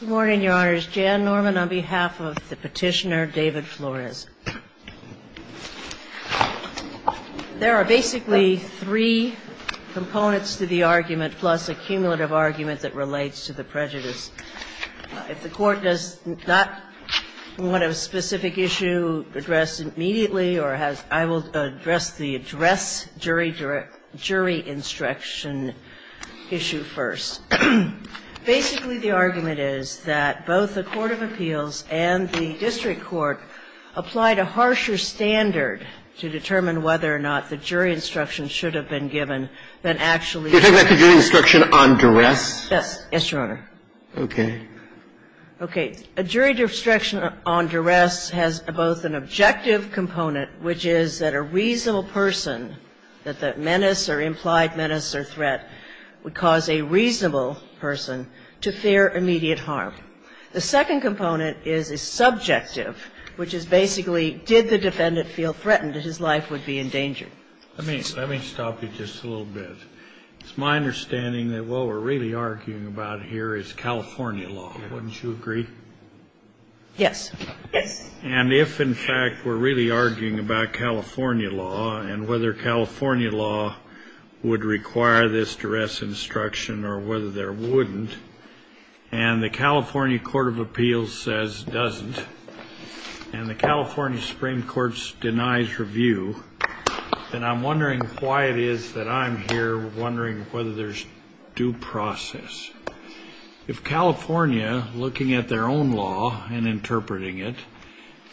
Good morning, Your Honors. Jan Norman on behalf of the petitioner David Flores. There are basically three components to the argument plus a cumulative argument that relates to the prejudice. If the Court does not want a specific issue addressed immediately or has – I will address the address jury instruction issue first. Basically, the argument is that both the Court of Appeals and the district court applied a harsher standard to determine whether or not the jury instruction should have been given than actually – You're talking about the jury instruction on duress? Yes. Yes, Your Honor. Okay. Okay. A jury instruction on duress has both an objective component, which is that a reasonable person, that the menace or implied menace or threat, would cause a reasonable person to fear immediate harm. The second component is a subjective, which is basically, did the defendant feel threatened that his life would be in danger? Let me stop you just a little bit. It's my understanding that what we're really arguing about here is California law. Wouldn't you agree? Yes. Yes. And if, in fact, we're really arguing about California law and whether California law would require this duress instruction or whether there wouldn't, and the California Court of Appeals says it doesn't, and the California Supreme Court denies review, then I'm wondering why it is that I'm here wondering whether there's due process. If California, looking at their own law and interpreting it,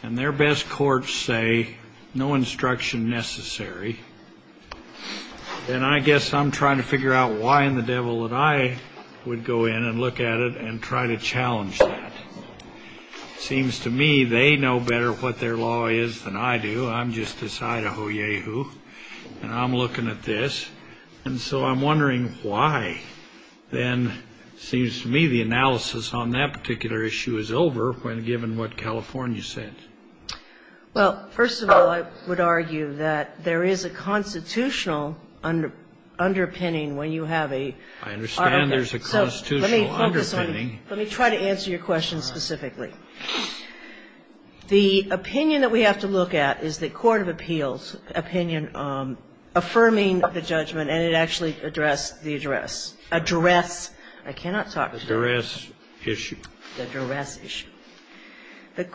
and their best courts say no instruction necessary, then I guess I'm trying to figure out why in the devil that I would go in and look at it and try to challenge that. It seems to me they know better what their law is than I do. So I'm just this Idaho yahoo, and I'm looking at this. And so I'm wondering why, then, it seems to me the analysis on that particular issue is over when given what California said. Well, first of all, I would argue that there is a constitutional underpinning when you have a argument. I understand there's a constitutional underpinning. Let me try to answer your question specifically. The opinion that we have to look at is the court of appeals' opinion affirming the judgment, and it actually addressed the address. Address. I cannot talk about it. The duress issue. The duress issue. The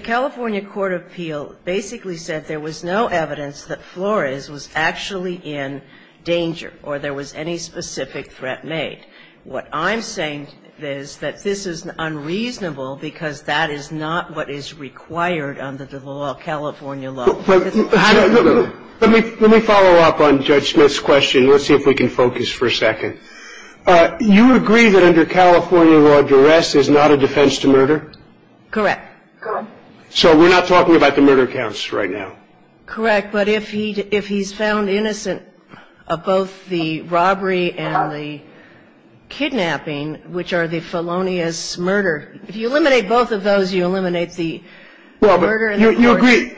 California court of appeals basically said there was no evidence that Flores was actually in danger or there was any specific threat made. What I'm saying is that this is unreasonable because that is not what is required under the law, California law. Let me follow up on Judge Smith's question. Let's see if we can focus for a second. You agree that under California law, duress is not a defense to murder? Correct. So we're not talking about the murder counts right now. Correct. But if he's found innocent of both the robbery and the kidnapping, which are the felonious murder, if you eliminate both of those, you eliminate the murder and the force. Well, but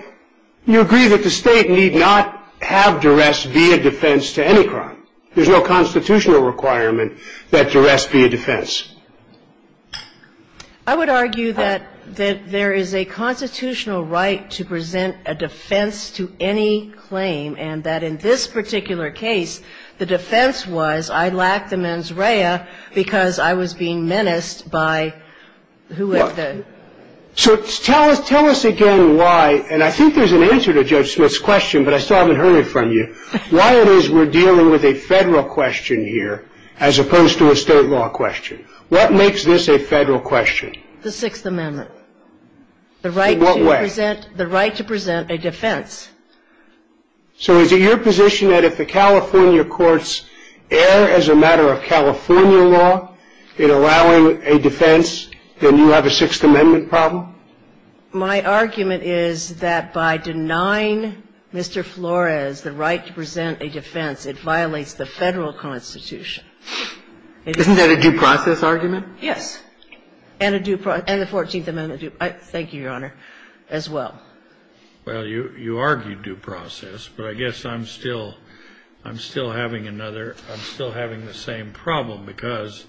you agree that the State need not have duress be a defense to any crime. There's no constitutional requirement that duress be a defense. I would argue that there is a constitutional right to present a defense to any claim and that in this particular case, the defense was I lacked the mens rea because I was being menaced by who was the? So tell us again why, and I think there's an answer to Judge Smith's question, but I still haven't heard it from you, why it is we're dealing with a Federal question here as opposed to a State law question. What makes this a Federal question? The Sixth Amendment. In what way? The right to present a defense. So is it your position that if the California courts err as a matter of California law in allowing a defense, then you have a Sixth Amendment problem? My argument is that by denying Mr. Flores the right to present a defense, it violates the Federal Constitution. Isn't that a due process argument? Yes. And a due process. And the Fourteenth Amendment. Thank you, Your Honor, as well. Well, you argued due process, but I guess I'm still having another, I'm still having the same problem, because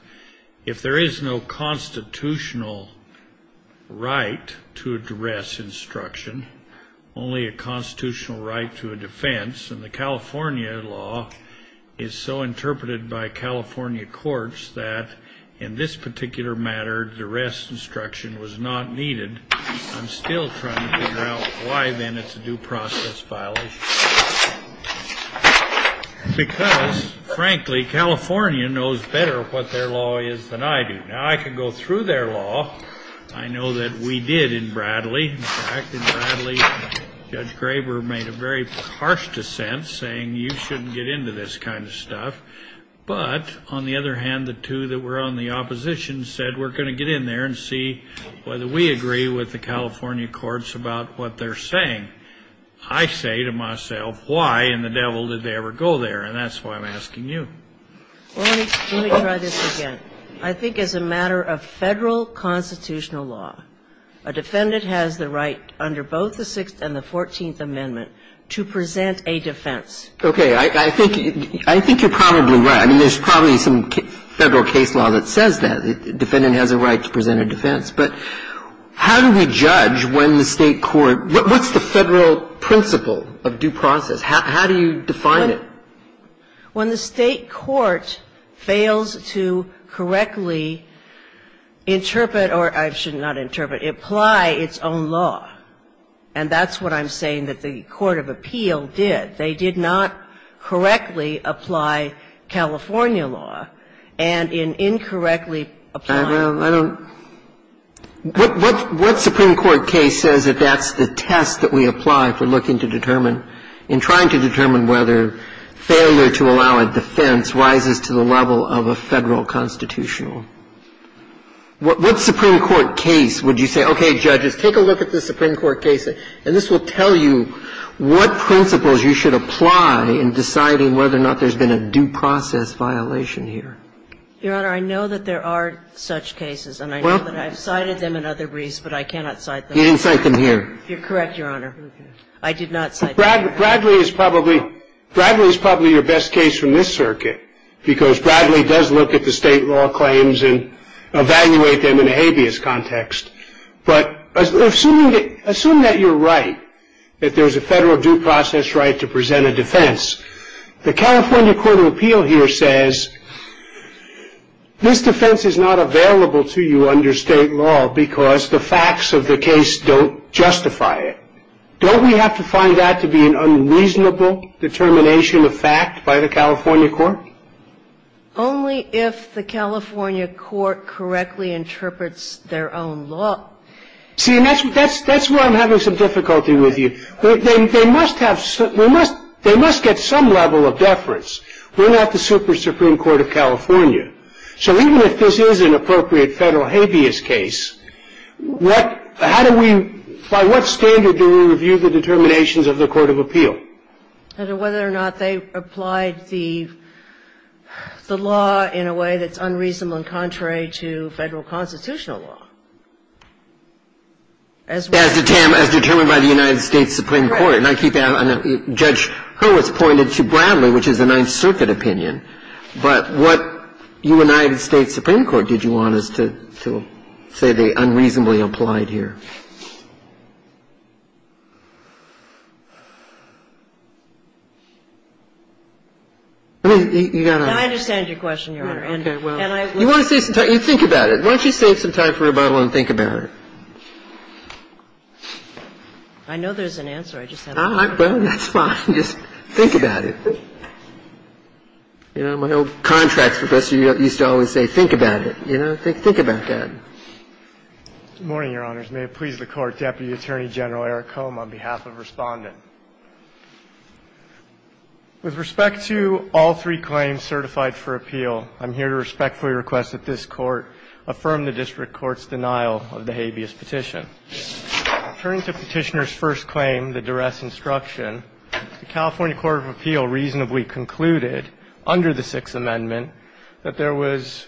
if there is no constitutional right to address instruction, only a constitutional right to a defense, and the California law is so interpreted by California courts that in this particular matter, the rest instruction was not needed. I'm still trying to figure out why, then, it's a due process violation. Because, frankly, California knows better what their law is than I do. Now, I could go through their law. I know that we did in Bradley. In fact, in Bradley, Judge Graber made a very harsh dissent, saying you shouldn't get into this kind of stuff. But, on the other hand, the two that were on the opposition said we're going to get in there and see whether we agree with the California courts about what they're saying. I say to myself, why in the devil did they ever go there? And that's why I'm asking you. Well, let me try this again. I think as a matter of Federal constitutional law, a defendant has the right under both the Sixth and the Fourteenth Amendment to present a defense. Okay. I think you're probably right. I mean, there's probably some Federal case law that says that. A defendant has a right to present a defense. But how do we judge when the State court – what's the Federal principle of due process? How do you define it? When the State court fails to correctly interpret or – I should not interpret – apply its own law. And that's what I'm saying that the court of appeal did. They did not correctly apply California law. And in incorrectly applying it. Well, I don't – what Supreme Court case says that that's the test that we apply for looking to determine whether failure to allow a defense rises to the level of a Federal constitutional. What Supreme Court case would you say, okay, judges, take a look at the Supreme Court case, and this will tell you what principles you should apply in deciding whether or not there's been a due process violation here? Your Honor, I know that there are such cases. And I know that I've cited them in other briefs, but I cannot cite them. You didn't cite them here. You're correct, Your Honor. I did not cite them here. Bradley is probably your best case from this circuit because Bradley does look at the State law claims and evaluate them in a habeas context. But assume that you're right, that there's a Federal due process right to present a defense. The California court of appeal here says this defense is not available to you under State law because the facts of the case don't justify it. Don't we have to find that to be an unreasonable determination of fact by the California court? Only if the California court correctly interprets their own law. See, and that's where I'm having some difficulty with you. They must have some ‑‑ they must get some level of deference. So even if this is an appropriate Federal habeas case, what ‑‑ how do we ‑‑ by what standard do we review the determinations of the court of appeal? I don't know whether or not they applied the law in a way that's unreasonable and contrary to Federal constitutional law. As determined by the United States Supreme Court. Right. And I keep ‑‑ Judge Hurwitz pointed to Bradley, which is a Ninth Circuit opinion. But what United States Supreme Court did you want us to say they unreasonably applied here? I mean, you've got to ‑‑ I understand your question, Your Honor. Okay. Well, you want to save some time. You think about it. Why don't you save some time for rebuttal and think about it? I know there's an answer. I just have to ‑‑ Well, that's fine. Just think about it. You know, my old contract professor used to always say, think about it. You know, think about that. Good morning, Your Honors. May it please the Court. Deputy Attorney General Eric Cohn on behalf of Respondent. With respect to all three claims certified for appeal, I'm here to respectfully request that this Court affirm the district court's denial of the habeas petition. Turning to Petitioner's first claim, the duress instruction, the California Supreme Court of Appeal reasonably concluded under the Sixth Amendment that there was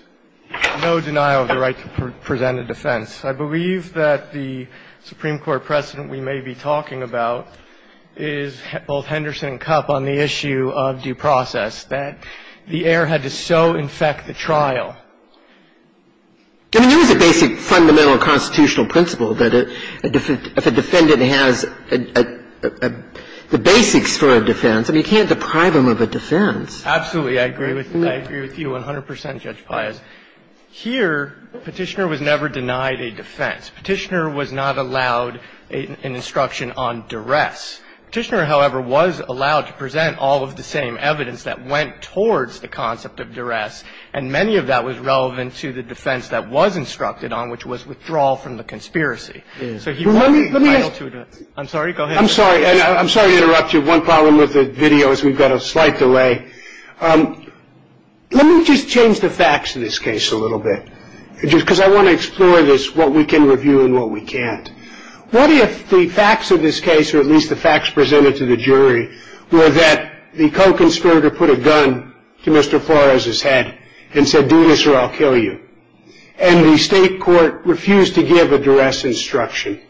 no denial of the right to present a defense. I believe that the Supreme Court precedent we may be talking about is both Henderson and Kupp on the issue of due process, that the heir had to so infect the trial. I mean, there was a basic fundamental constitutional principle that if a defendant has the basics for a defense, I mean, you can't deprive him of a defense. Absolutely. I agree with you 100 percent, Judge Pius. Here, Petitioner was never denied a defense. Petitioner was not allowed an instruction on duress. Petitioner, however, was allowed to present all of the same evidence that went towards the concept of duress, and many of that was relevant to the defense that was instructed on, which was withdrawal from the conspiracy. I'm sorry, go ahead. I'm sorry to interrupt you. One problem with the video is we've got a slight delay. Let me just change the facts of this case a little bit, because I want to explore this, what we can review and what we can't. What if the facts of this case, or at least the facts presented to the jury, were that the co-conspirator put a gun to Mr. Flores' head and said, do this or I'll kill you, and the state court refused to give a duress instruction?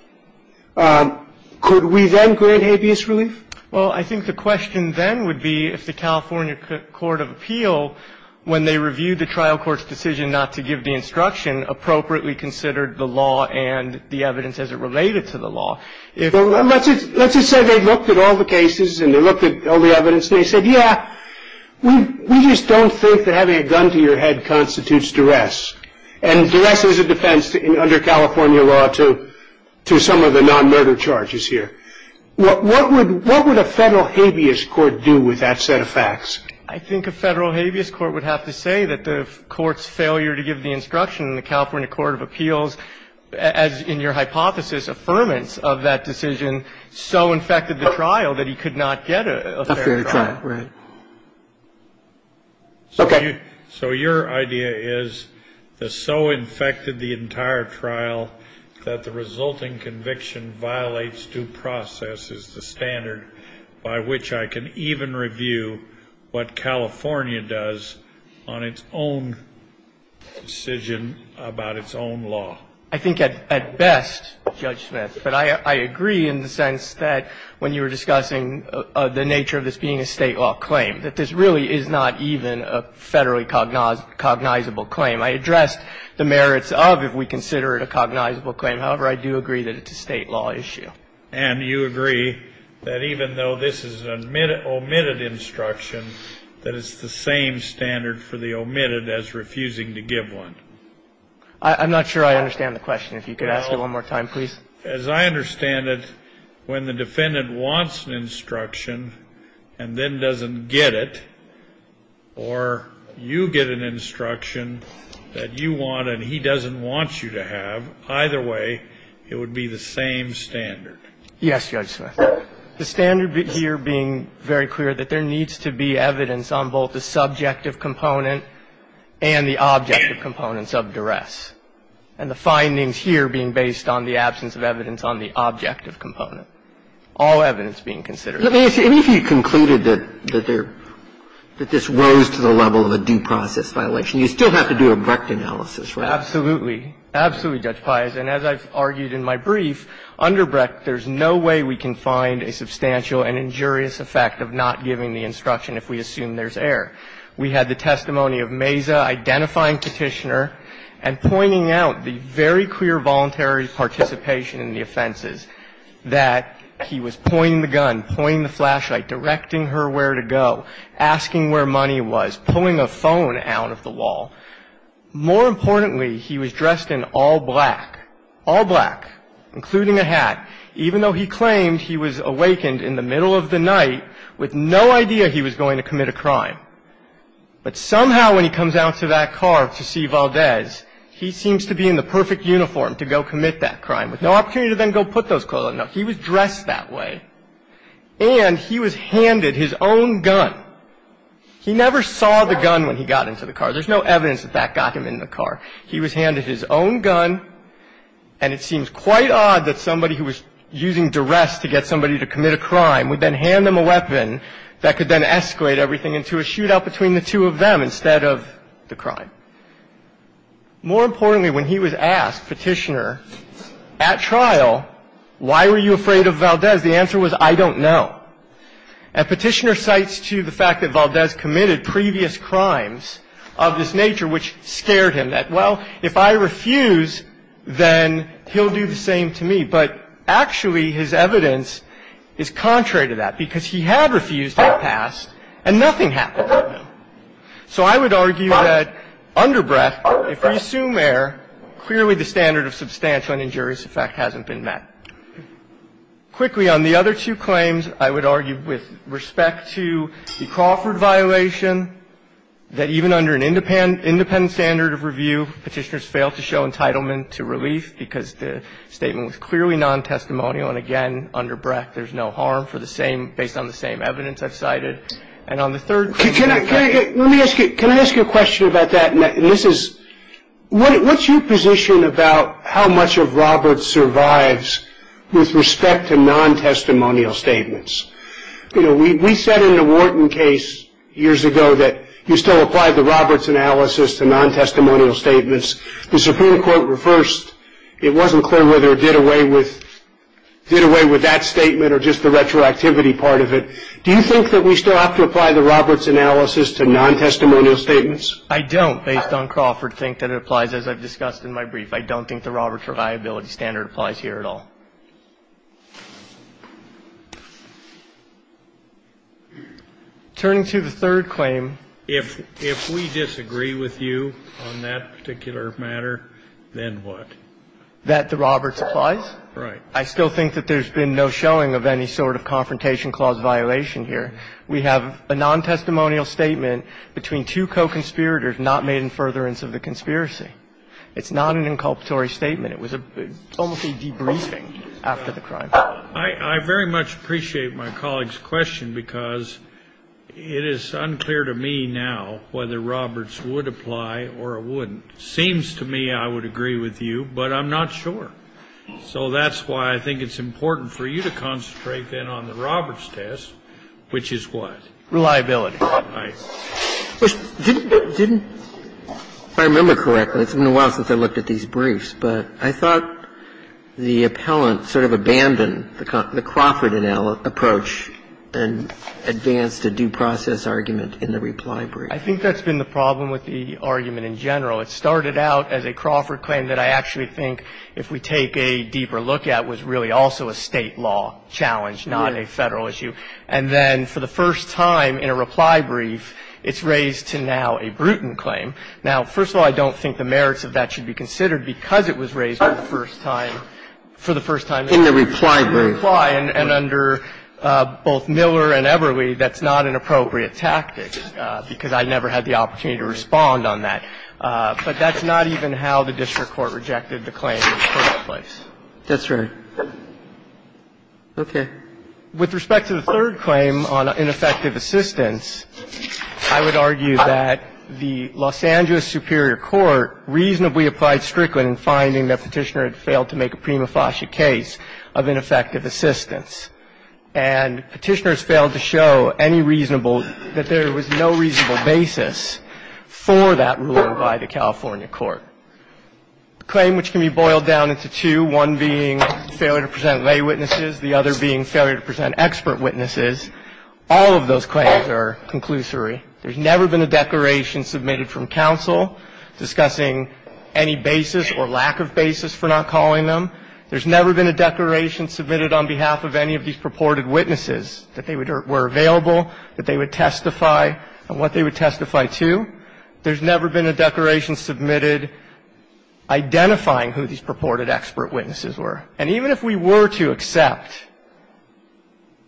Could we then grant habeas relief? Well, I think the question then would be if the California Court of Appeal, when they reviewed the trial court's decision not to give the instruction, appropriately considered the law and the evidence as it related to the law. Let's just say they looked at all the cases and they looked at all the evidence and they said, yeah, we just don't think that having a gun to your head constitutes duress. And duress is a defense under California law to some of the non-murder charges here. What would a federal habeas court do with that set of facts? I think a federal habeas court would have to say that the court's failure to give the instruction in the California Court of Appeals, as in your hypothesis, So the court's idea would be to say, oh, you know, I think Mr. Flores' disaffirmance of that decision so infected the trial that he could not get a fair trial. A fair trial, right. Okay. So your idea is it so infected the entire trial that the resulting conviction violates due process is the standard by which I can even review what California does on its own decision about its own law. I think at best, Judge Smith, but I agree in the sense that when you were discussing the nature of this being a State law claim, that this really is not even a Federally cognizable claim. I addressed the merits of if we consider it a cognizable claim. However, I do agree that it's a State law issue. And you agree that even though this is an omitted instruction, that it's the same standard for the omitted as refusing to give one. I'm not sure I understand the question. If you could ask it one more time, please. As I understand it, when the defendant wants an instruction and then doesn't get it, or you get an instruction that you want and he doesn't want you to have, either way, it would be the same standard. Yes, Judge Smith. The standard here being very clear that there needs to be evidence on both the subjective component and the objective components of duress, and the findings here being based on the absence of evidence on the objective component. All evidence being considered. Let me ask you. Even if you concluded that there – that this rose to the level of a due process violation, you still have to do a Brecht analysis, right? Absolutely. Absolutely, Judge Pius. And as I've argued in my brief, under Brecht, there's no way we can find a substantial and injurious effect of not giving the instruction if we assume there's error. We had the testimony of Meza identifying Petitioner and pointing out the very clear voluntary participation in the offenses, that he was pointing the gun, pointing the flashlight, directing her where to go, asking where money was, pulling a phone out of the wall. More importantly, he was dressed in all black, all black, including a hat, even though he claimed he was awakened in the middle of the night with no idea he was going to commit a crime. But somehow when he comes out to that car to see Valdez, he seems to be in the perfect uniform to go commit that crime, with no opportunity to then go put those clothes on. No, he was dressed that way. And he was handed his own gun. He never saw the gun when he got into the car. There's no evidence that that got him in the car. He was handed his own gun, and it seems quite odd that somebody who was using duress to get somebody to commit a crime would then hand them a weapon that could then escalate everything into a shootout between the two of them instead of the crime. More importantly, when he was asked, Petitioner, at trial, why were you afraid of Valdez, the answer was, I don't know. And Petitioner cites to the fact that Valdez committed previous crimes of this nature, which scared him, that, well, if I refuse, then he'll do the same to me. But actually, his evidence is contrary to that, because he had refused in the past and nothing happened to him. So I would argue that under breath, if we assume error, clearly the standard of substantial and injurious effect hasn't been met. Quickly, on the other two claims, I would argue with respect to the Crawford violation, that even under an independent standard of review, Petitioner's failed to show entitlement to relief because the statement was clearly nontestimonial. And again, under breath, there's no harm for the same – based on the same evidence I've cited. And on the third – Let me ask you – can I ask you a question about that? And this is – what's your position about how much of Roberts survives with respect to nontestimonial statements? You know, we said in the Wharton case years ago that you still apply the Roberts analysis to nontestimonial statements. The Supreme Court reversed. It wasn't clear whether it did away with that statement or just the retroactivity part of it. Do you think that we still have to apply the Roberts analysis to nontestimonial statements? I don't, based on Crawford, think that it applies, as I've discussed in my brief. I don't think the Roberts reliability standard applies here at all. Turning to the third claim. If we disagree with you on that particular matter, then what? That the Roberts applies? Right. I still think that there's been no showing of any sort of confrontation clause violation here. We have a nontestimonial statement between two co-conspirators not made in furtherance of the conspiracy. It's not an inculpatory statement. It was almost a debriefing after the crime. I very much appreciate my colleague's question, because it is unclear to me now whether Roberts would apply or it wouldn't. It seems to me I would agree with you, but I'm not sure. So that's why I think it's important for you to concentrate, then, on the Roberts test, which is what? Reliability. Right. Didn't I remember correctly? It's been a while since I looked at these briefs. But I thought the appellant sort of abandoned the Crawford approach and advanced a due process argument in the reply brief. I think that's been the problem with the argument in general. It started out as a Crawford claim that I actually think, if we take a deeper look at, was really also a State law challenge, not a Federal issue. And then for the first time in a reply brief, it's raised to now a Bruton claim. Now, first of all, I don't think the merits of that should be considered because it was raised for the first time in the reply brief. In the reply brief. In the reply. And under both Miller and Eberle, that's not an appropriate tactic, because I never had the opportunity to respond on that. But that's not even how the district court rejected the claim in the first place. That's right. Okay. With respect to the third claim on ineffective assistance, I would argue that the Los Angeles Superior Court reasonably applied Strickland in finding that Petitioner had failed to make a prima facie case of ineffective assistance. And Petitioner has failed to show any reasonable, that there was no reasonable basis for that ruling by the California court. The claim which can be boiled down into two, one being failure to present lay witnesses, the other being failure to present expert witnesses, all of those claims are conclusory. There's never been a declaration submitted from counsel discussing any basis or lack of basis for not calling them. There's never been a declaration submitted on behalf of any of these purported witnesses that they were available, that they would testify, and what they would testify to. With respect to the third claim, there's never been a declaration submitted identifying who these purported expert witnesses were. And even if we were to accept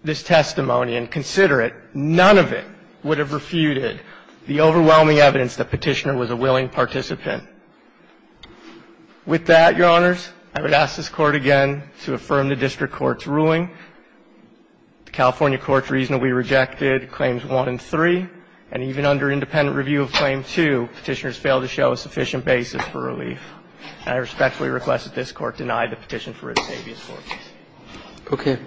this testimony and consider it, none of it would have refuted the overwhelming evidence that Petitioner was a willing participant. With that, Your Honors, I would ask this Court again to affirm the district court's claim to Petitioner's fail to show a sufficient basis for relief. And I respectfully request that this Court deny the petition for a disavious court. Thank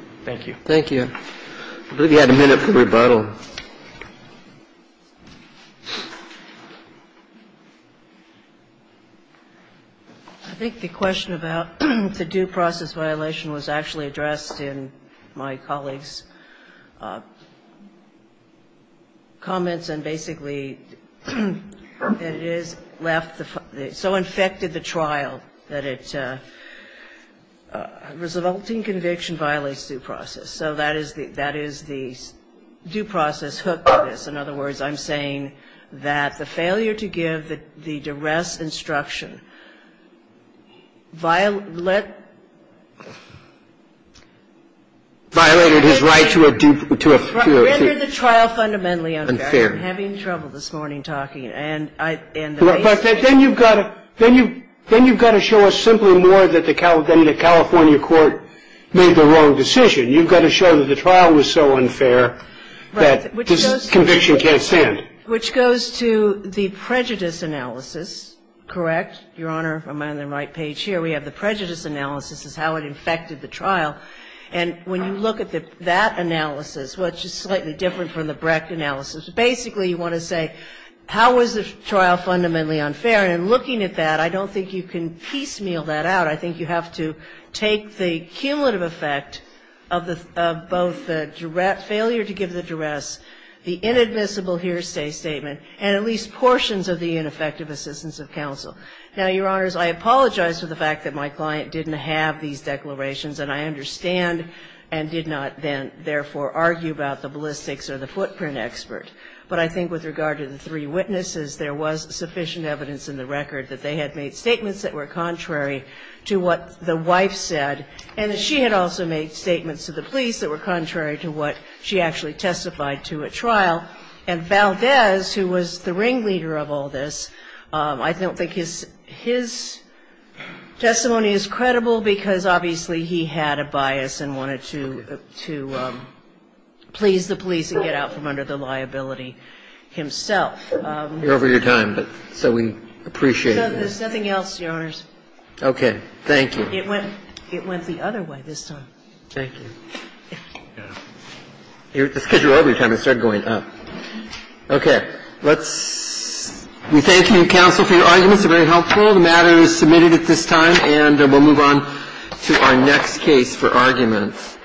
you. Thank you. I believe we had a minute for rebuttal. I think the question about the due process violation was actually addressed in my colleague's comments. And basically, it has left the so infected the trial that it's a resulting conviction violates due process. So that is the due process hook for this. In other words, I'm saying that the failure to give the duress instruction violated his right to a due process. Rendered the trial fundamentally unfair. Unfair. I'm having trouble this morning talking. And the reason why. But then you've got to show us simply more than the California court made the wrong decision. You've got to show that the trial was so unfair that this conviction can't stand. Which goes to the prejudice analysis. Correct? Your Honor, am I on the right page here? We have the prejudice analysis is how it infected the trial. And when you look at that analysis, which is slightly different from the Brecht analysis, basically you want to say how was the trial fundamentally unfair. And looking at that, I don't think you can piecemeal that out. I think you have to take the cumulative effect of both the failure to give the duress, the inadmissible hearsay statement, and at least portions of the ineffective assistance of counsel. Now, Your Honors, I apologize for the fact that my client didn't have these declarations and I understand and did not then therefore argue about the ballistics or the footprint expert. But I think with regard to the three witnesses, there was sufficient evidence in the record that they had made statements that were contrary to what the wife said and that she had also made statements to the police that were contrary to what she actually testified to at trial. And Valdez, who was the ringleader of all this, I don't think his testimony is credible because obviously he had a bias and wanted to please the police and get out from under the liability himself. We're over your time, but so we appreciate this. There's nothing else, Your Honors. Okay. Thank you. It went the other way this time. Thank you. Yeah. The schedule over your time, it started going up. Okay. Let's see. Thank you, counsel, for your arguments. They were very helpful. The matter is submitted at this time, and we'll move on to our next case for arguments.